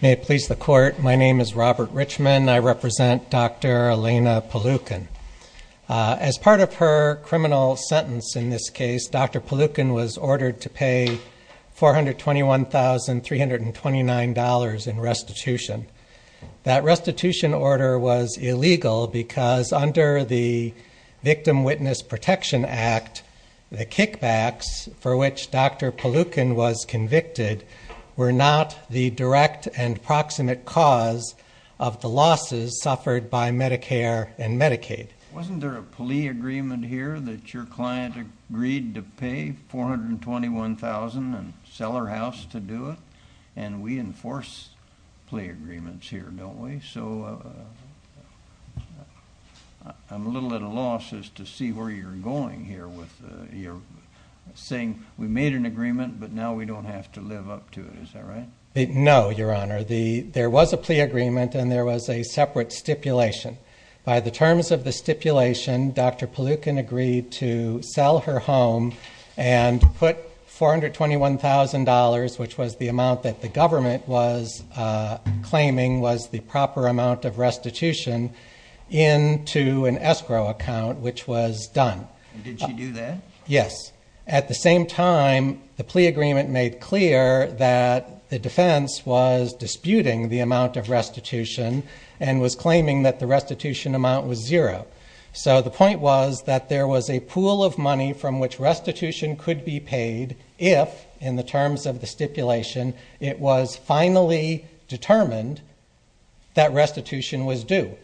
May it please the court, my name is Robert Richman. I represent Dr. Elena Polukhin. As part of her criminal sentence in this case, Dr. Polukhin was ordered to pay $421,329 in restitution. That restitution order was illegal because under the Victim Witness Protection Act, the kickbacks for which Dr. Polukhin was convicted were not the direct and proximate cause of the losses suffered by Medicare and Medicaid. Wasn't there a plea agreement here that your client agreed to pay $421,399 and sell her house to do it? And we enforce plea agreement here saying we made an agreement, but now we don't have to live up to it. Is that right? No, Your Honor. There was a plea agreement and there was a separate stipulation. By the terms of the stipulation, Dr. Polukhin agreed to sell her home and put $421,000, which was the amount that the government was claiming was the proper amount of restitution, into an escrow account, which was done. Did she do that? Yes. At the same time, the plea agreement made clear that the defense was disputing the amount of restitution and was claiming that the restitution amount was zero. So the point was that there was a pool of money from which restitution could be paid if, in the terms of the stipulation, it was finally determined that restitution was due.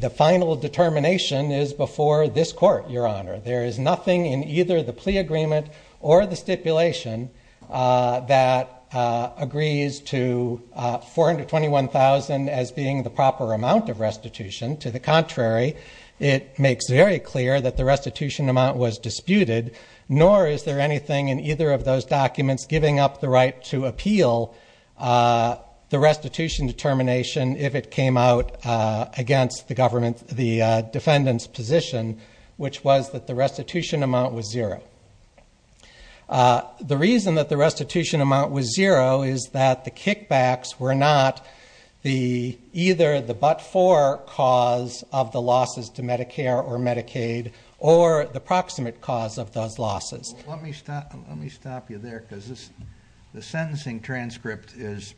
The final determination is before this court, Your Honor. There is nothing in either the plea agreement or the stipulation that agrees to $421,000 as being the proper amount of restitution. To the contrary, it makes very clear that the restitution amount was disputed, nor is there anything in either of those documents giving up the right to appeal the restitution determination if it came out against the defendant's position, which was that the restitution amount was zero. The reason that the restitution amount was zero is that the kickbacks were not either the but-for cause of the losses to Medicare or Medicaid or the proximate cause of those losses. Let me stop you there because the sentencing transcript is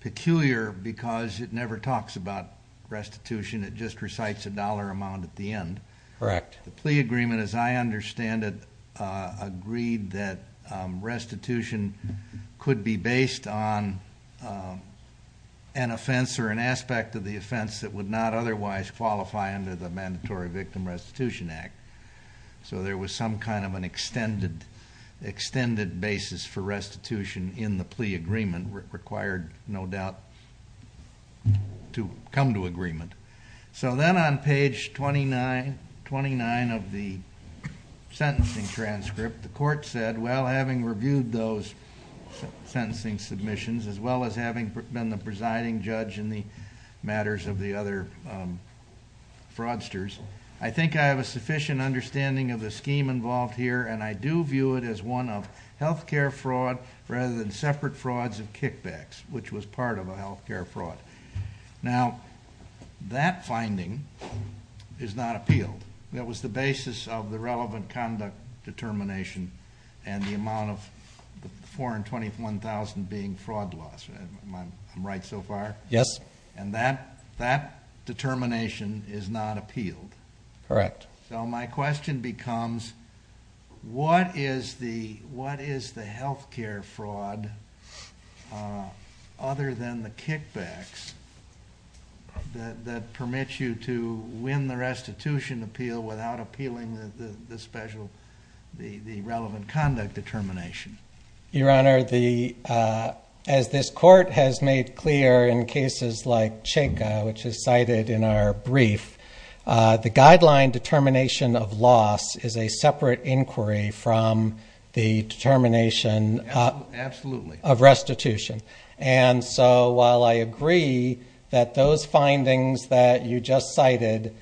peculiar because it never talks about restitution. It just recites a dollar amount at the end. Correct. The plea agreement, as I understand it, agreed that restitution could be based on an offense or an aspect of the offense that would not otherwise qualify under the Mandatory Victim Restitution Act. There was some kind of an extended basis for restitution in the plea agreement required, no doubt, to come to agreement. Then on page 29 of the sentencing transcript, the court said, well, having reviewed those sentencing submissions as well as having been the presiding judge in the case of the other fraudsters, I think I have a sufficient understanding of the scheme involved here, and I do view it as one of health care fraud rather than separate frauds of kickbacks, which was part of a health care fraud. Now, that finding is not appealed. That was the basis of the relevant conduct determination and the amount of 421,000 being fraud loss. Am I right so far? Yes. And that determination is not appealed? Correct. So my question becomes, what is the health care fraud other than the kickbacks that permit you to win the restitution appeal without appealing the relevant conduct determination? Your Honor, as this court has made clear in cases like Cheka, which is cited in our brief, the guideline determination of loss is a separate inquiry from the determination of restitution. And so while I agree that those findings that you just cited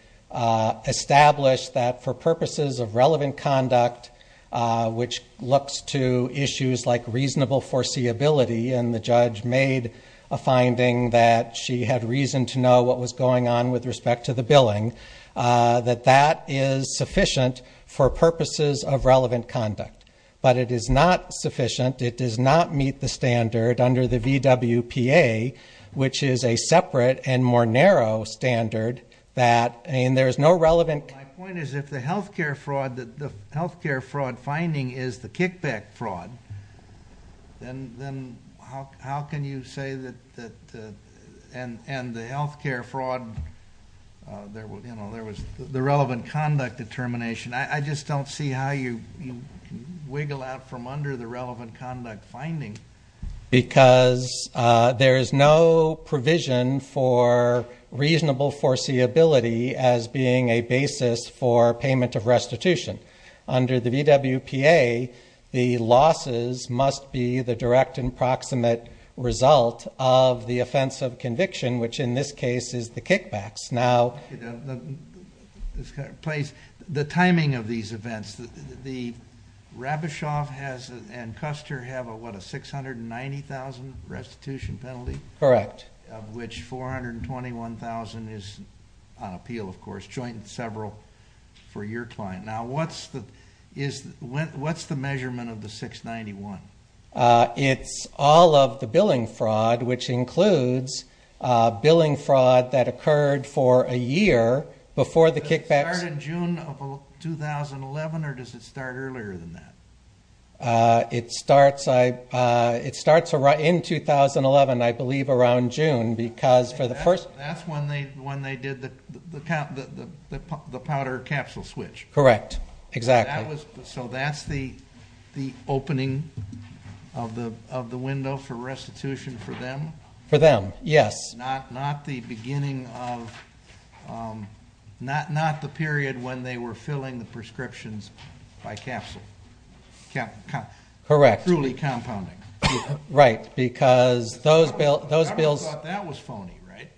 establish that for purposes of relevant conduct, which looks to a finding that she had reason to know what was going on with respect to the billing, that that is sufficient for purposes of relevant conduct. But it is not sufficient. It does not meet the standard under the VWPA, which is a separate and more narrow standard that there is no relevant... My point is, if the health care fraud finding is the kickback fraud, then how can you say that... And the health care fraud, there was the relevant conduct determination. I just don't see how you wiggle out from under the relevant conduct finding. Because there is no provision for reasonable foreseeability as being a basis for payment of restitution. Under the VWPA, the losses must be the direct and proximate result of the offense of conviction, which in this case is the kickbacks. Now... The timing of these events, the Rabishoff and Custer have a what, a 690,000 restitution penalty? Correct. Of which 421,000 is on appeal, of course, joint and several for your client. Now, what's the measurement of the 691? It's all of the billing fraud, which includes billing fraud that occurred for a year before the kickbacks... Does it start in June of 2011 or does it start earlier than that? It starts in 2011, I believe, around June, because for the first... That's when they did the powder capsule switch. Correct, exactly. So that's the opening of the window for restitution for them? For them, yes. Not the beginning of... Not the period when they were filling the truly compounding. Right, because those bills... The government thought that was phony, right?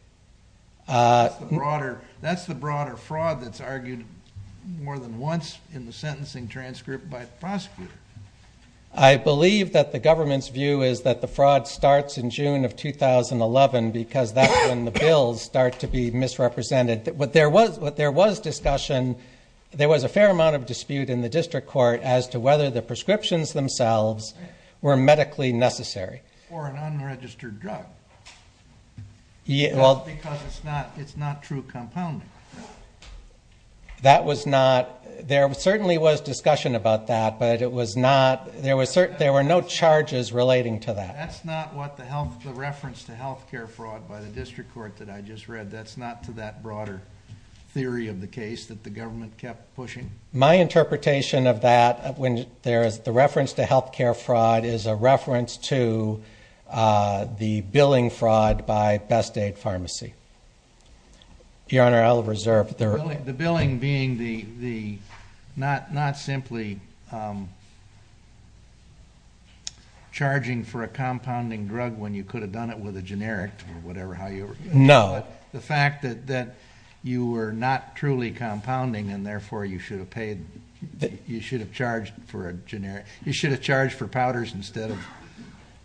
That's the broader fraud that's argued more than once in the sentencing transcript by the prosecutor. I believe that the government's view is that the fraud starts in June of 2011 because that's when the bills start to be misrepresented. What there was discussion, there was a fair amount of discussion about whether the transcriptions themselves were medically necessary. Or an unregistered drug, just because it's not true compounding. That was not... There certainly was discussion about that, but it was not... There were no charges relating to that. That's not what the reference to healthcare fraud by the district court that I just read. That's not to that broader theory of the case that the government kept pushing. My interpretation of that, when there is the reference to healthcare fraud, is a reference to the billing fraud by Best Aid Pharmacy. Your Honor, I'll reserve the... The billing being the not simply charging for a compounding drug when you could have done it with a generic or whatever how you... No. The fact that you were not truly compounding and therefore you should have paid... You should have charged for a generic... You should have charged for powders instead of...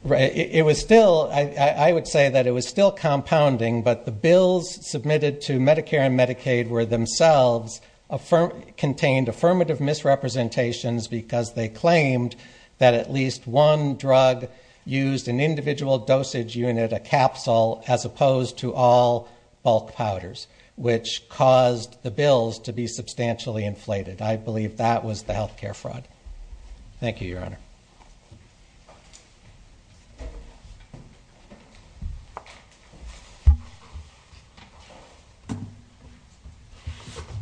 Right. It was still... I would say that it was still compounding, but the bills submitted to Medicare and Medicaid were themselves... Contained affirmative misrepresentations because they claimed that at least one drug used an individual dosage unit, a capsule, as opposed to all bulk powders, which caused the bills to be substantially inflated. I believe that was the healthcare fraud. Thank you, Your Honor.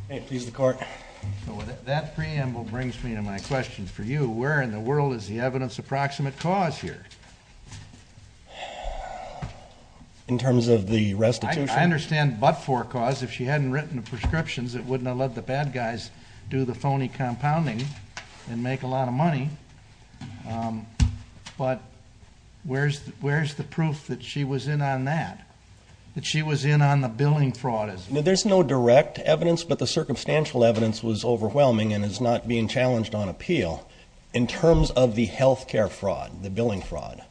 Okay. Please, the court. That preamble brings me to my question for you. Where in the world is the evidence-approximate cause here? In terms of the restitution? I understand but-for cause. If she hadn't written the prescriptions, it wouldn't have let the bad guys do the phony compounding and make a lot of money. But where's the proof that she was in on that? That she was in on the billing fraud as well? There's no direct evidence, but the circumstantial evidence was overwhelming and is not being challenged on appeal. In terms of the healthcare fraud, the billing fraud,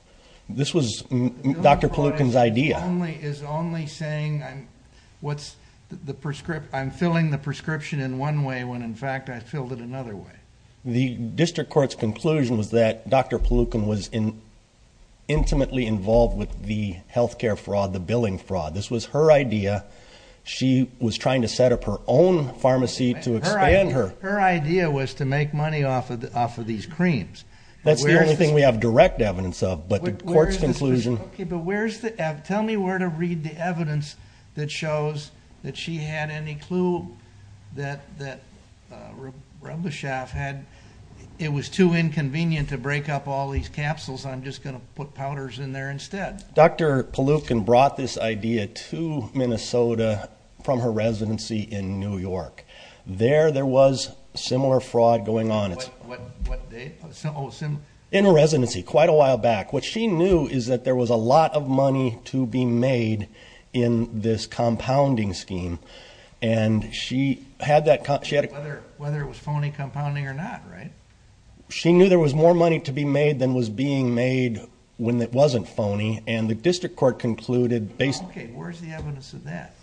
this was Dr. Palookan's idea. The billing fraud is only saying I'm filling the prescription in one way when, in fact, I filled it another way. The district court's conclusion was that Dr. Palookan was intimately involved with the healthcare fraud, the billing fraud. This was her idea. She was trying to set up her own pharmacy to expand her. Her idea was to make money off of these creams. That's the only thing we have direct evidence of, but the court's conclusion- Okay, but where's the-tell me where to read the evidence that shows that she had any clue that Rubishaf had-it was too inconvenient to break up all these capsules. I'm just going to put powders in there instead. Dr. Palookan brought this idea to Minnesota from her residency in New York. There, there was similar fraud going on. What date? Oh, similar. In her residency, quite a while back. What she knew is that there was a lot of money to be made in this compounding scheme. She had that- Whether it was phony compounding or not, right? She knew there was more money to be made than was being made when it wasn't phony. The district court has no evidence of that.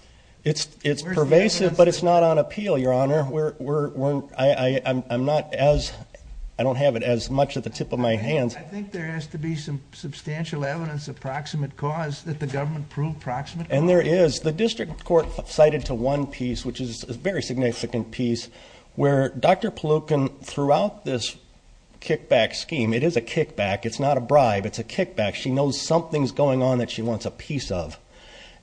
It's pervasive, but it's not on appeal, Your Honor. I'm not as-I don't have it as much at the tip of my hands. I think there has to be some substantial evidence of proximate cause that the government proved proximate. And there is. The district court cited to one piece, which is a very significant piece, where Dr. Palookan, throughout this kickback scheme-it is a kickback. It's not a bribe. It's a kickback. She knows something's going on that she wants a piece of.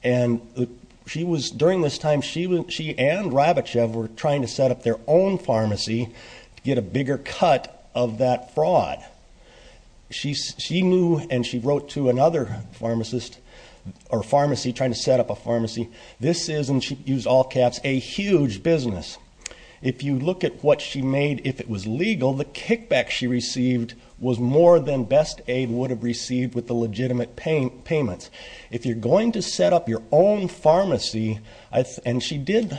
And she was, during this time, she and Rabichev were trying to set up their own pharmacy to get a bigger cut of that fraud. She knew, and she wrote to another pharmacist or pharmacy, trying to set up a pharmacy. This is, and she used all caps, a huge business. If you look at what she made, if it was legal, the kickback she received was more than Best Aid would have received with the legitimate payments. If you're going to set up your own pharmacy, and she did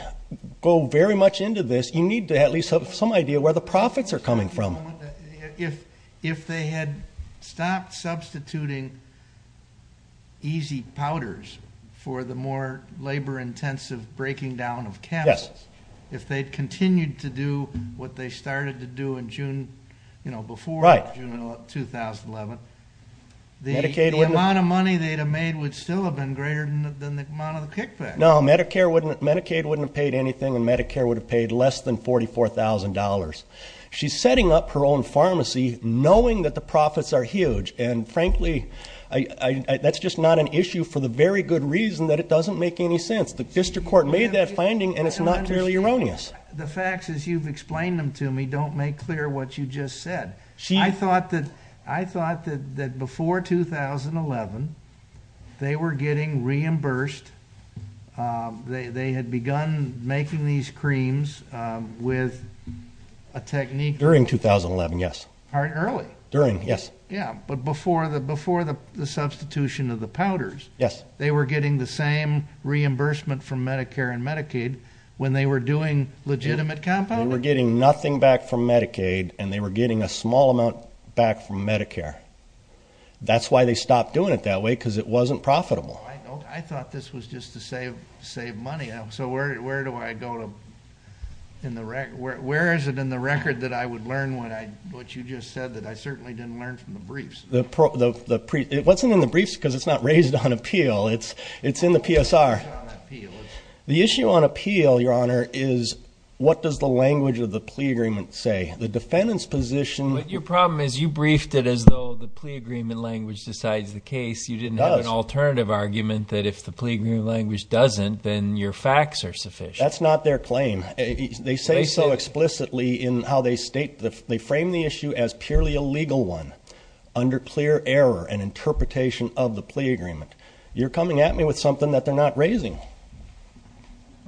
go very much into this, you need to at least have some idea where the profits are coming from. If they had stopped substituting easy powders for the more labor-intensive breaking down of caps, if they'd continued to do what they started to do in June, you know, before June 2011, the amount of money they'd still have been greater than the amount of the kickback. No, Medicare wouldn't, Medicaid wouldn't have paid anything, and Medicare would have paid less than $44,000. She's setting up her own pharmacy knowing that the profits are huge. And frankly, that's just not an issue for the very good reason that it doesn't make any sense. The district court made that finding, and it's not clearly erroneous. The facts as you've explained them to me don't make clear what you just said. I thought that before 2011, they were getting reimbursed. They had begun making these creams with a technique. During 2011, yes. Early. During, yes. Yeah, but before the substitution of the powders. Yes. They were getting the same reimbursement from Medicare and Medicaid when they were doing legitimate compounding? They were getting nothing back from Medicaid, and they were getting a small amount back from Medicare. That's why they stopped doing it that way, because it wasn't profitable. I thought this was just to save money. So where do I go to, in the record, where is it in the record that I would learn what you just said that I certainly didn't learn from the briefs? It wasn't in the briefs because it's not raised on appeal. It's in the PSR. The issue on appeal, Your Honor, is what does the language of the plea agreement say? The defendant's position- But your problem is you briefed it as though the plea agreement language decides the case. You didn't have an alternative argument that if the plea agreement language doesn't, then your facts are sufficient. That's not their claim. They say so explicitly in how they frame the issue as purely a legal one, under clear error and interpretation of the plea agreement. You're coming at me with something that they're not raising.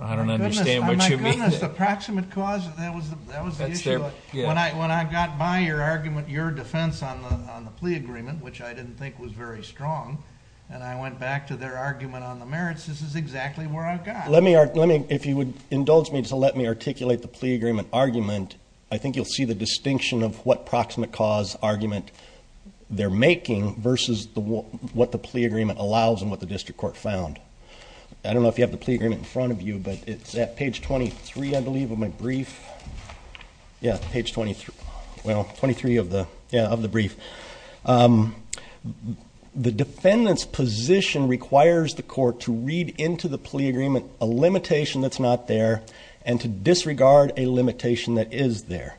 I don't understand what you mean. My goodness, the proximate cause, that was the issue. When I got by your argument, your defense on the plea agreement, which I didn't think was very strong, and I went back to their argument on the merits, this is exactly where I've got. If you would indulge me to let me articulate the plea agreement argument, I think you'll see the distinction of what proximate cause argument they're making versus what the plea agreement allows and what the district court found. I don't know if you have the plea agreement in front of you, but it's at page 23, I believe, of my brief. Yeah, page 23. Well, 23 of the brief. The defendant's position requires the court to read into the plea agreement a limitation that's not there and to disregard a limitation that is there.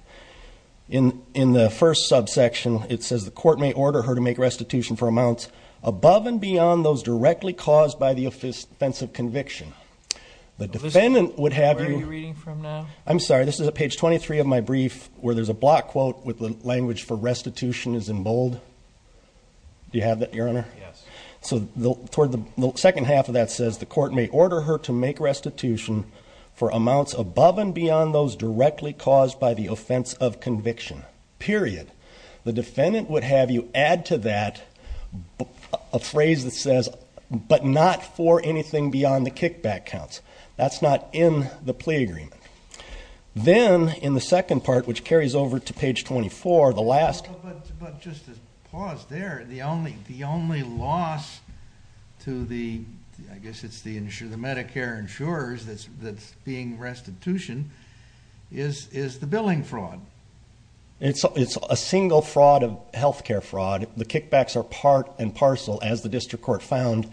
In the first subsection, it says the court may order her to make restitution for amounts above and beyond those directly caused by the offensive conviction. The defendant would have you- Where are you reading from now? I'm sorry, this is at page 23 of my brief, where there's a block quote with the language for restitution is in bold. Do you have that, Your Honor? Yes. So toward the second half of that says, the court may order her to make restitution for amounts above and beyond those directly caused by the offense of conviction, period. The defendant would have you add to that a phrase that says, but not for anything beyond the kickback counts. That's not in the plea agreement. Then in the second part, which carries over to page 24, the last- No, but just to pause there, the only loss to the, I guess it's the Medicare insurers that's being restitution, is the billing fraud. It's a single fraud of healthcare fraud. The kickbacks are part and parcel, as the district court found,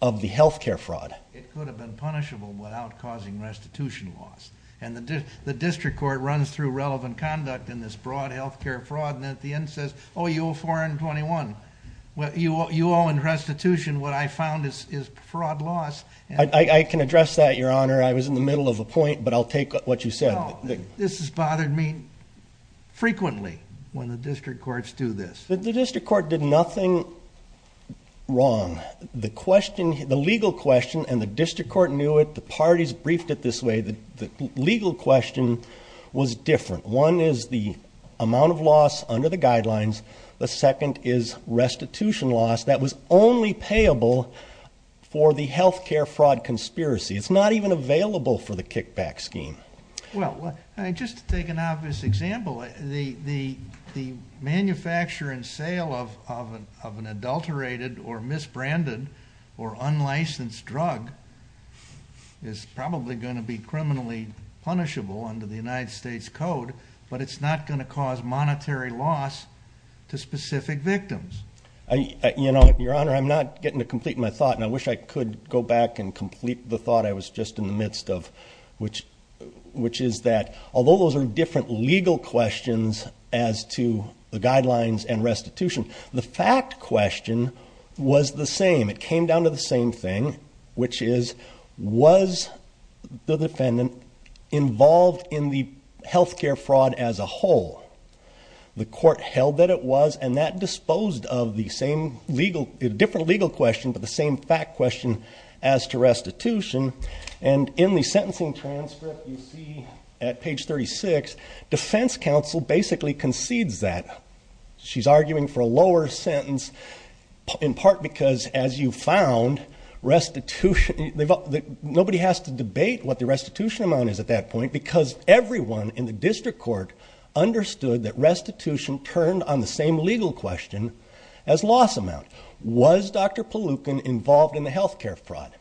of the healthcare fraud. It could have been punishable without causing restitution loss. And the district court runs through relevant conduct in this broad healthcare fraud, and at the end says, oh, you owe 421. You owe in restitution what I found is fraud loss. I can address that, Your Honor. I was in the middle of a point, but I'll take what you said. This has bothered me frequently when the district courts do this. The district court did nothing wrong. The legal question, and the district court knew it, the parties briefed it this way, the legal question was different. One is the amount of loss under the guidelines. The second is restitution loss that was only payable for the healthcare fraud conspiracy. It's not even available for the kickback scheme. Well, just to take an obvious example, the manufacture and sale of an adulterated or misbranded or unlicensed drug is probably going to be criminally punishable under the United States Code, but it's not going to cause monetary loss to specific victims. You know, Your Honor, I'm not getting to complete my thought, and I wish I could go back and complete the thought I was just in the midst of, which is that although those are different legal questions as to the guidelines and restitution, the fact question was the same. It came down to the same thing, which is, was the defendant involved in the healthcare fraud as a whole? The court held that it was, and that disposed of the same legal, different legal question, but the same fact question as to restitution. And in the sentencing transcript you see at page 36, defense counsel basically concedes that. She's arguing for a lower sentence in part because as you found restitution, nobody has to debate what the restitution amount is at that point, because everyone in the district court understood that restitution turned on the same legal question as loss amount. Was Dr. Palookan involved in the healthcare fraud?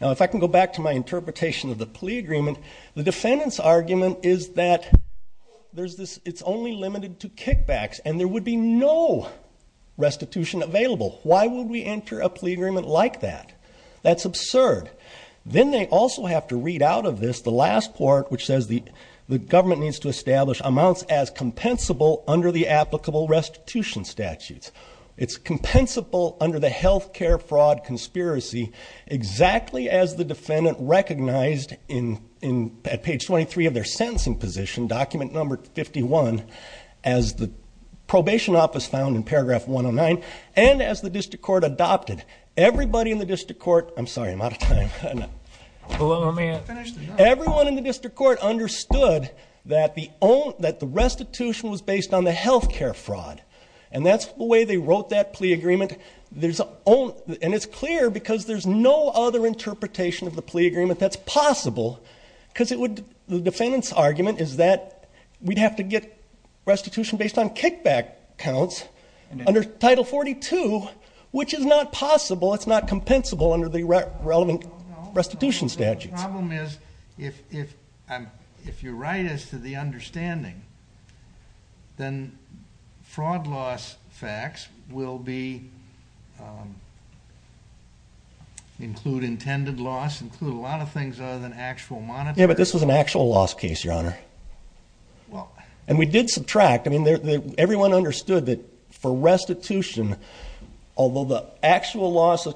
Now, if I can go back to my interpretation of the plea agreement, the defendant's argument is that it's only limited to kickbacks, and there would be no restitution available. Why would we enter a plea agreement like that? That's absurd. Then they also have to read out of this the last part, which says the government needs to establish amounts as compensable under the applicable restitution statutes. It's compensable under the healthcare fraud conspiracy, exactly as the defendant recognized at page 23 of their sentencing position, document number 51, as the probation office found in paragraph 109, and as the district court adopted. Everybody in the district court, I'm sorry, I'm out of time. Everyone in the district court understood that the restitution was based on the healthcare fraud, and that's the way they wrote that plea agreement. And it's clear because there's no other interpretation of the plea agreement that's possible because the defendant's argument is that we'd have to get restitution based on kickback counts under Title 42, which is not possible. It's not compensable under the relevant restitution statutes. The problem is, if you're right as to the understanding, then fraud loss facts will be, include intended loss, include a lot of things other than actual monetary- Yeah, but this was an actual loss case, Your Honor. And we did subtract, I mean, everyone understood that for restitution, although the actual loss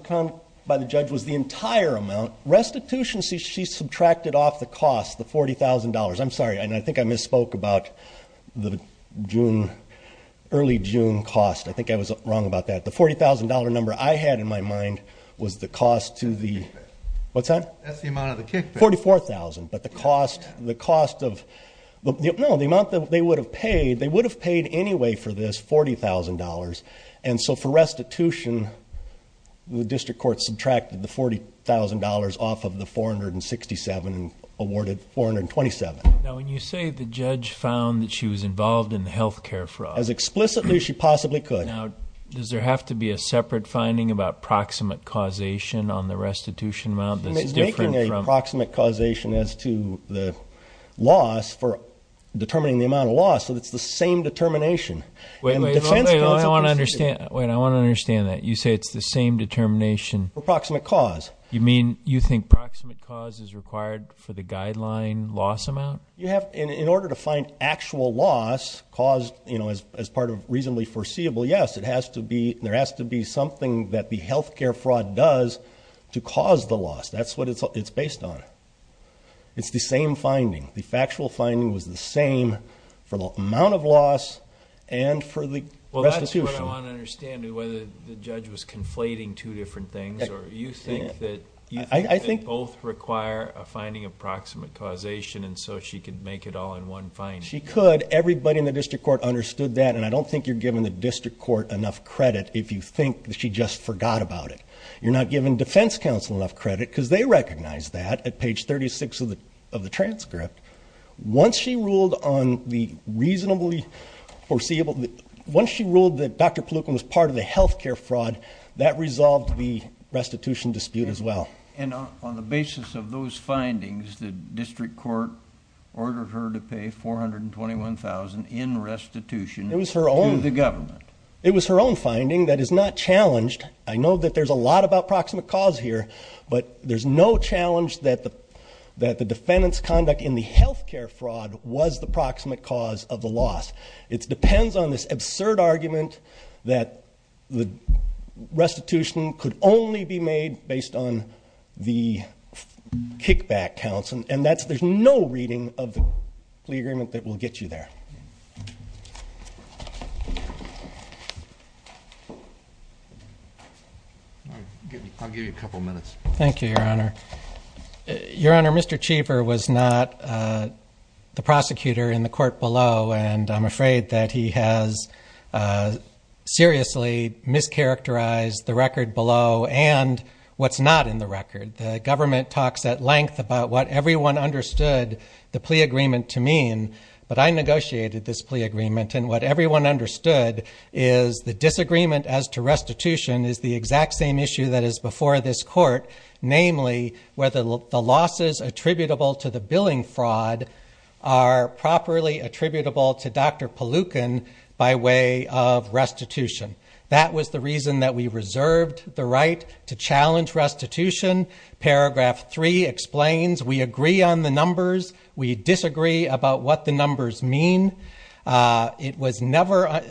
by the judge was the entire amount. Restitution, she subtracted off the cost, the $40,000. I'm sorry, and I think I misspoke about the early June cost. I think I was wrong about that. The $40,000 number I had in my mind was the cost to the- That's the kickback. What's that? That's the amount of the kickback. $44,000, but the cost of, no, the amount that they would have paid, they would have paid anyway for this $40,000. And so for restitution, the district court subtracted the $40,000 off of the 467 and awarded 427. Now, when you say the judge found that she was involved in the healthcare fraud- As explicitly as she possibly could. Now, does there have to be a separate finding about proximate causation on the restitution amount that's different from- Making a proximate causation as to the loss for determining the amount of loss, so it's the same determination. Wait, I want to understand that. You say it's the same determination- For proximate cause. You mean, you think proximate cause is required for the guideline loss amount? You have, in order to find actual loss caused as part of reasonably foreseeable, yes, there has to be something that the healthcare fraud does to cause the loss. That's what it's based on. It's the same finding. The factual finding was the same for the amount of loss and for the restitution. Well, that's what I want to understand, whether the judge was conflating two different things, or you think that both require a finding of proximate causation, and so she could make it all in one finding. She could. Everybody in the district court understood that, and I don't think you're giving the district court enough credit if you think that she just forgot about it. You're not giving defense counsel enough credit, because they recognized that at page 36 of the transcript. Once she ruled on the reasonably foreseeable- Once she ruled that Dr. Palookan was part of the healthcare fraud, that resolved the restitution dispute as well. And on the basis of those findings, the district court ordered her to pay $421,000 in restitution to the government. It was her own finding that is not challenged. I know that there's a lot about proximate cause here, but there's no challenge that the defendant's conduct in the healthcare fraud was the proximate cause of the loss. It depends on this absurd argument that the restitution could only be made based on the kickback counts, and there's no reading of the plea agreement that will get you there. I'll give you a couple minutes. Thank you, Your Honor. Your Honor, Mr. Cheever was not the prosecutor in the court below, and I'm afraid that he has seriously mischaracterized the record below and what's not in the record. The government talks at length about what everyone understood the plea agreement to mean, but I negotiated this plea agreement and what everyone understood is the disagreement as to restitution is the exact same issue that is before this court. Namely, whether the losses attributable to the billing fraud are properly attributable to Dr. Palookan by way of restitution. That was the reason that we reserved the right to challenge restitution. Paragraph three explains we agree on the numbers. We disagree about what the numbers mean. It was never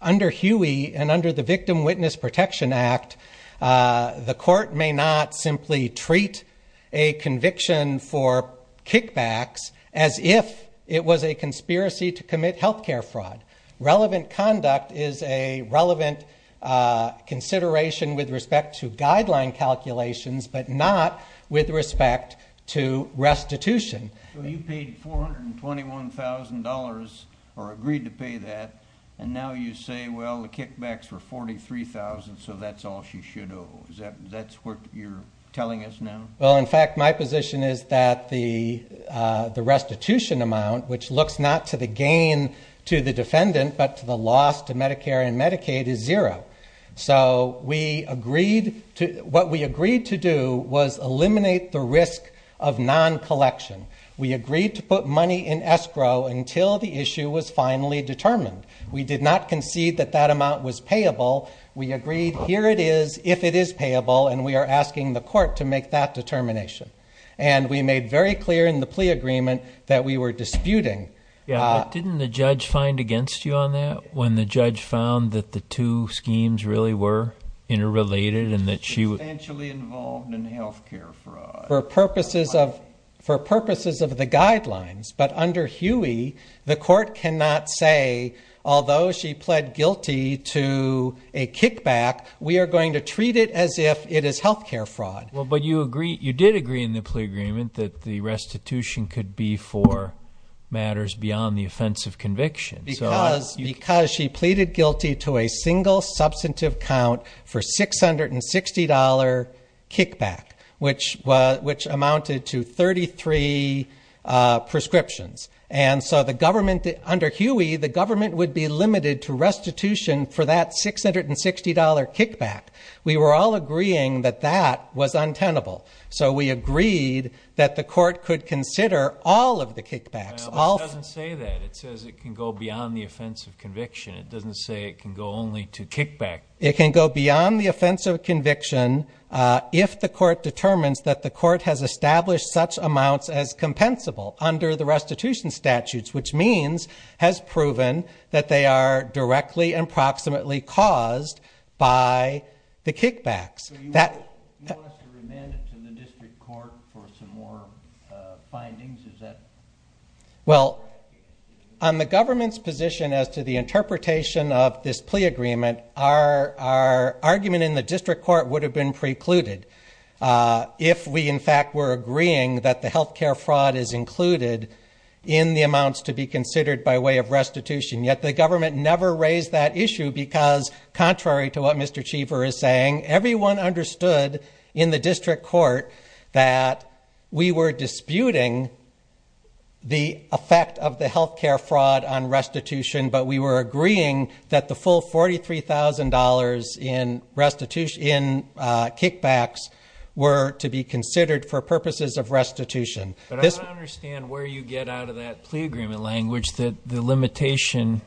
under Huey and under the Victim Witness Protection Act, the court may not simply treat a conviction for kickbacks as if it was a conspiracy to commit healthcare fraud. Relevant conduct is a relevant consideration with respect to guideline calculations, but not with respect to restitution. You paid $421,000 or agreed to pay that, and now you say, well, the kickbacks were $43,000, so that's all she should owe. That's what you're telling us now? Well, in fact, my position is that the restitution amount, which looks not to the gain to the defendant, but to the loss to Medicare and Medicaid is zero. So what we agreed to do was eliminate the risk of non-collection. We agreed to put money in escrow until the issue was finally determined. We did not concede that that amount was payable. We agreed, here it is, if it is payable, and we are asking the court to make that determination. And we made very clear in the plea agreement that we were disputing. Yeah, didn't the judge find against you on that? When the judge found that the two schemes really were interrelated and that she... Substantially involved in health care fraud. For purposes of the guidelines. But under Huey, the court cannot say, although she pled guilty to a kickback, we are going to treat it as if it is health care fraud. Well, but you agreed, you did agree in the plea agreement that the restitution could be for matters beyond the offense of conviction. Because she pleaded guilty to a single substantive count for $660 kickback, which amounted to 33 prescriptions. And so the government, under Huey, the government would be limited to restitution for that $660 kickback. We were all agreeing that that was untenable. So we agreed that the court could consider all of the kickbacks. Well, it doesn't say that. It says it can go beyond the offense of conviction. It doesn't say it can go only to kickback. It can go beyond the offense of conviction if the court determines that the court has established such amounts as compensable under the restitution statutes, which means has proven that they are directly and proximately caused by the kickbacks. So you want us to remand it to the district court for some more findings? Well, on the government's position as to the interpretation of this plea agreement, our argument in the district court would have been precluded if we, in fact, were agreeing that the health care fraud is included in the amounts to be considered by way of restitution. Yet the government never raised that issue because, contrary to what Mr. Cheever is saying, everyone understood in the district court that we were disputing the effect of the health care fraud on restitution, but we were agreeing that the full $43,000 in kickbacks were to be considered for purposes of restitution. But I don't understand where you get out of that plea agreement language that the limitation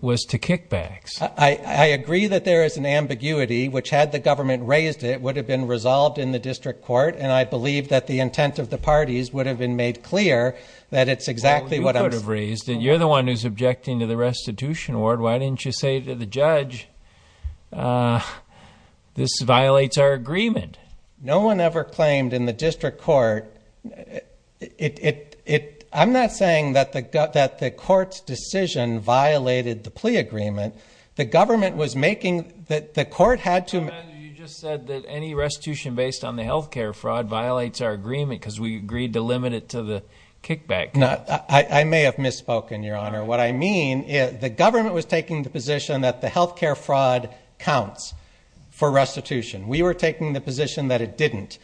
was to kickbacks. I agree that there is an ambiguity, which, had the government raised it, would have been resolved in the district court, and I believe that the intent of the parties would have been made clear that it's exactly what I'm saying. Well, you could have raised it. You're the one who's objecting to the restitution award. Why didn't you say to the judge, this violates our agreement? No one ever claimed in the district court. I'm not saying that the court's decision violated the plea agreement, the government was making that the court had to... You just said that any restitution based on the health care fraud violates our agreement because we agreed to limit it to the kickback. I may have misspoken, Your Honor. What I mean is the government was taking the position that the health care fraud counts for restitution. We were taking the position that it didn't.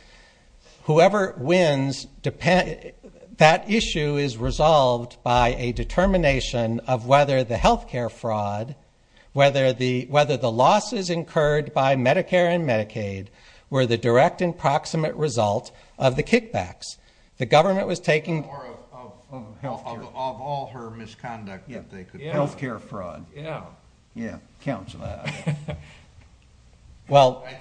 Whoever wins, that issue is resolved by a determination of whether the health care fraud, whether the losses incurred by Medicare and Medicaid were the direct and proximate result of the kickbacks. The government was taking... Or of health care. Of all her misconduct that they could... Health care fraud. Yeah. Yeah. Counts. I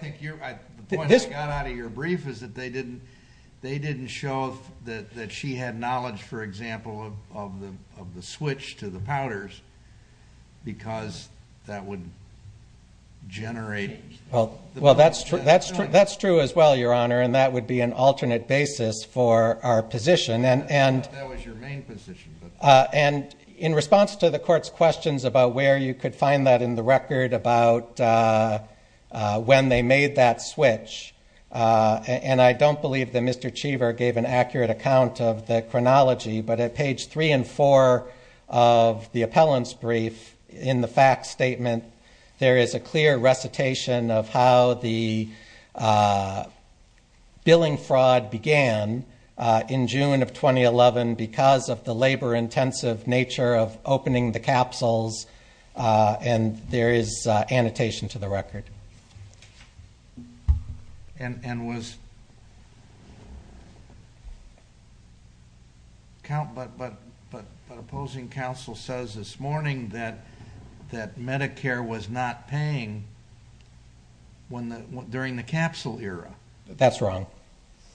think the point I got out of your brief is that they didn't show that she had knowledge, for example, of the switch to the powders because that would generate... Well, that's true as well, Your Honor, and that would be an alternate basis for our position. That was your main position. And in response to the court's questions about where you could find that in the record, about when they made that switch, and I don't believe that Mr. Cheever gave an accurate account of the chronology, but at page three and four of the appellant's brief in the fact statement, there is a clear recitation of how the billing fraud began in June of 2011 because of the labor-intensive nature of opening the capsules, and there is annotation to the record. And was... But opposing counsel says this morning that Medicare was not paying during the capsule era. That's wrong.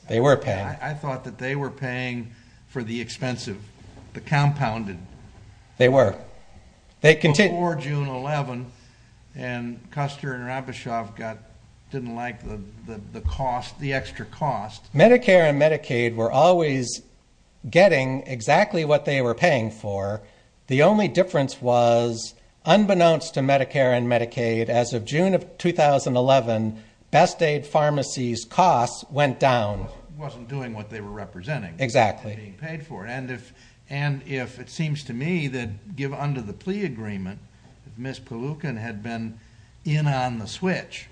They were paying. I thought that they were paying for the expensive, the compounded. They were. Before June 11, and Custer and Rabishov didn't like the cost, the extra cost. Medicare and Medicaid were always getting exactly what they were paying for. The only difference was, unbeknownst to Medicare and Medicaid, as of June of 2011, Best Aid Pharmacy's costs went down. Wasn't doing what they were representing. Exactly. And being paid for it. And if it seems to me that under the plea agreement, if Ms. Palookan had been in on the switch,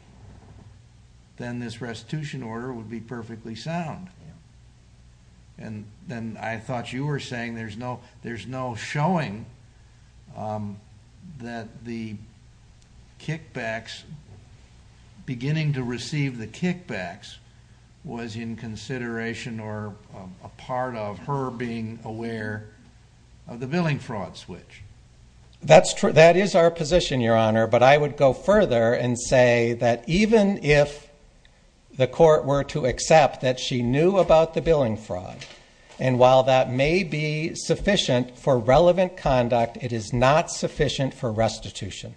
then this restitution order would be perfectly sound. And then I thought you were saying there's no showing that the kickbacks, beginning to receive the kickbacks, was in consideration, or a part of her being aware of the billing fraud switch. That is our position, Your Honor. But I would go further and say that even if the court were to accept that she knew about the billing fraud, and while that may be sufficient for relevant conduct, it is not sufficient for restitution.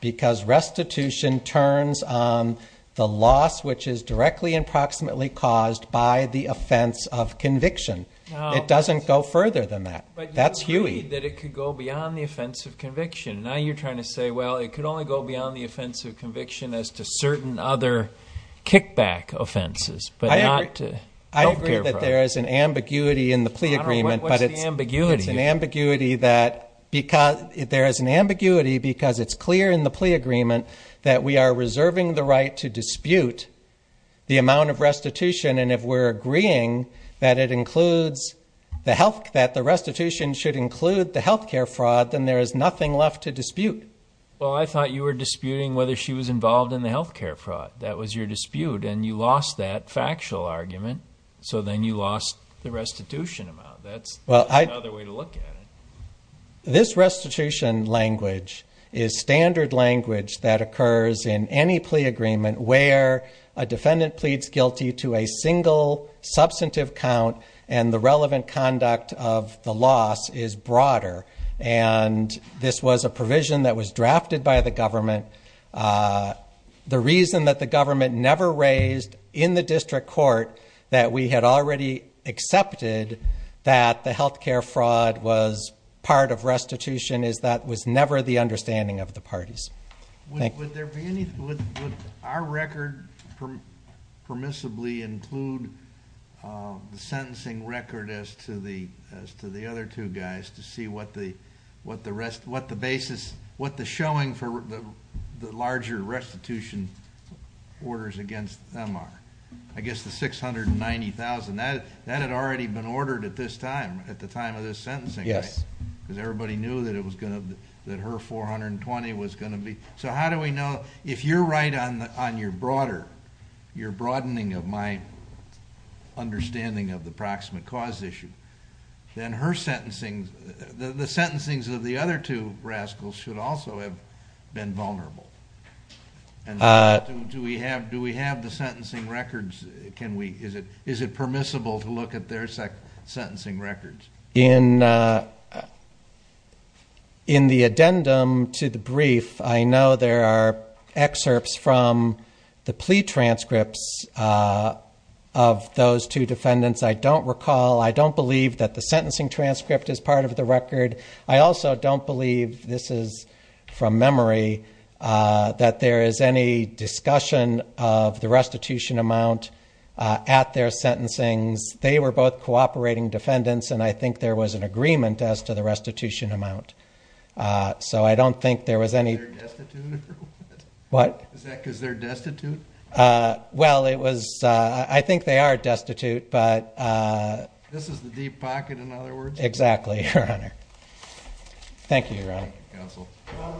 Because restitution turns on the loss, which is directly and proximately caused by the offense of conviction. It doesn't go further than that. That's Huey. But you agreed that it could go beyond the offense of conviction. Now you're trying to say, well, it could only go beyond the offense of conviction as to certain other kickback offenses. I agree that there is an ambiguity in the plea agreement. What's the ambiguity? It's an ambiguity that, there is an ambiguity because it's clear in the plea agreement that we are reserving the right to dispute the amount of restitution. And if we're agreeing that it includes the health, that the restitution should include the healthcare fraud, then there is nothing left to dispute. Well, I thought you were disputing whether she was involved in the healthcare fraud. That was your dispute. And you lost that factual argument. So then you lost the restitution amount. That's another way to look at it. This restitution language is standard language that occurs in any plea agreement where a defendant pleads guilty to a single substantive count and the relevant conduct of the loss is broader. And this was a provision that was drafted by the government. The reason that the government never raised in the district court that we had already accepted that the healthcare fraud was part of restitution is that was never the understanding of the parties. Would our record permissibly include the sentencing record as to the other two guys to see what the basis, what the showing for the larger restitution orders against them are? I guess the 690,000, that had already been ordered at this time, at the time of this sentencing, right? Yes. Because everybody knew that her 420 was gonna be... So how do we know, if you're right on your broader, your broadening of my understanding of the proximate cause issue, then her sentencing, the sentencings of the other two rascals should also have been vulnerable. And do we have the sentencing records? Can we, is it permissible to look at their sentencing records? In the addendum to the brief, I know there are excerpts from the plea transcripts of those two defendants. I don't recall, I don't believe that the sentencing transcript is part of the record. I also don't believe, this is from memory, that there is any discussion of the restitution amount at their sentencings. They were both cooperating defendants and I think there was an agreement as to the restitution amount. So I don't think there was any... They're destitute or what? What? Is that because they're destitute? Well, it was... I think they are destitute, but... This is the deep pocket in other words? Exactly, Your Honor. Thank you, Your Honor. Counsel.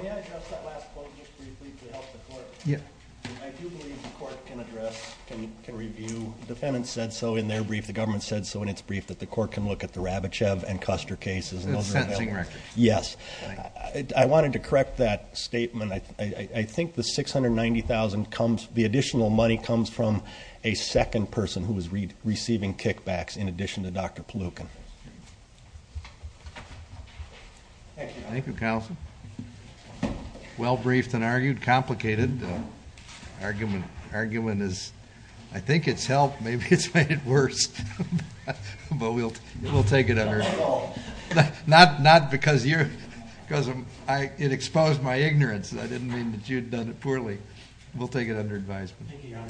May I address that last point just briefly to help the court? Yeah. I do believe the court can address, can review, defendants said so in their brief, the government said so in its brief that the court can look at the Rabichev and Custer cases. The sentencing records. Yes. I wanted to correct that statement. I think the 690,000 comes... The additional money comes from a second person who was receiving kickbacks in addition to Dr. Palookan. Thank you, counsel. Well briefed and argued, complicated. Argument is... I think it's helped. Maybe it's made it worse. But we'll take it under... Not because you're... Because it exposed my ignorance. I didn't mean that you'd done it poorly. We'll take it under advisement.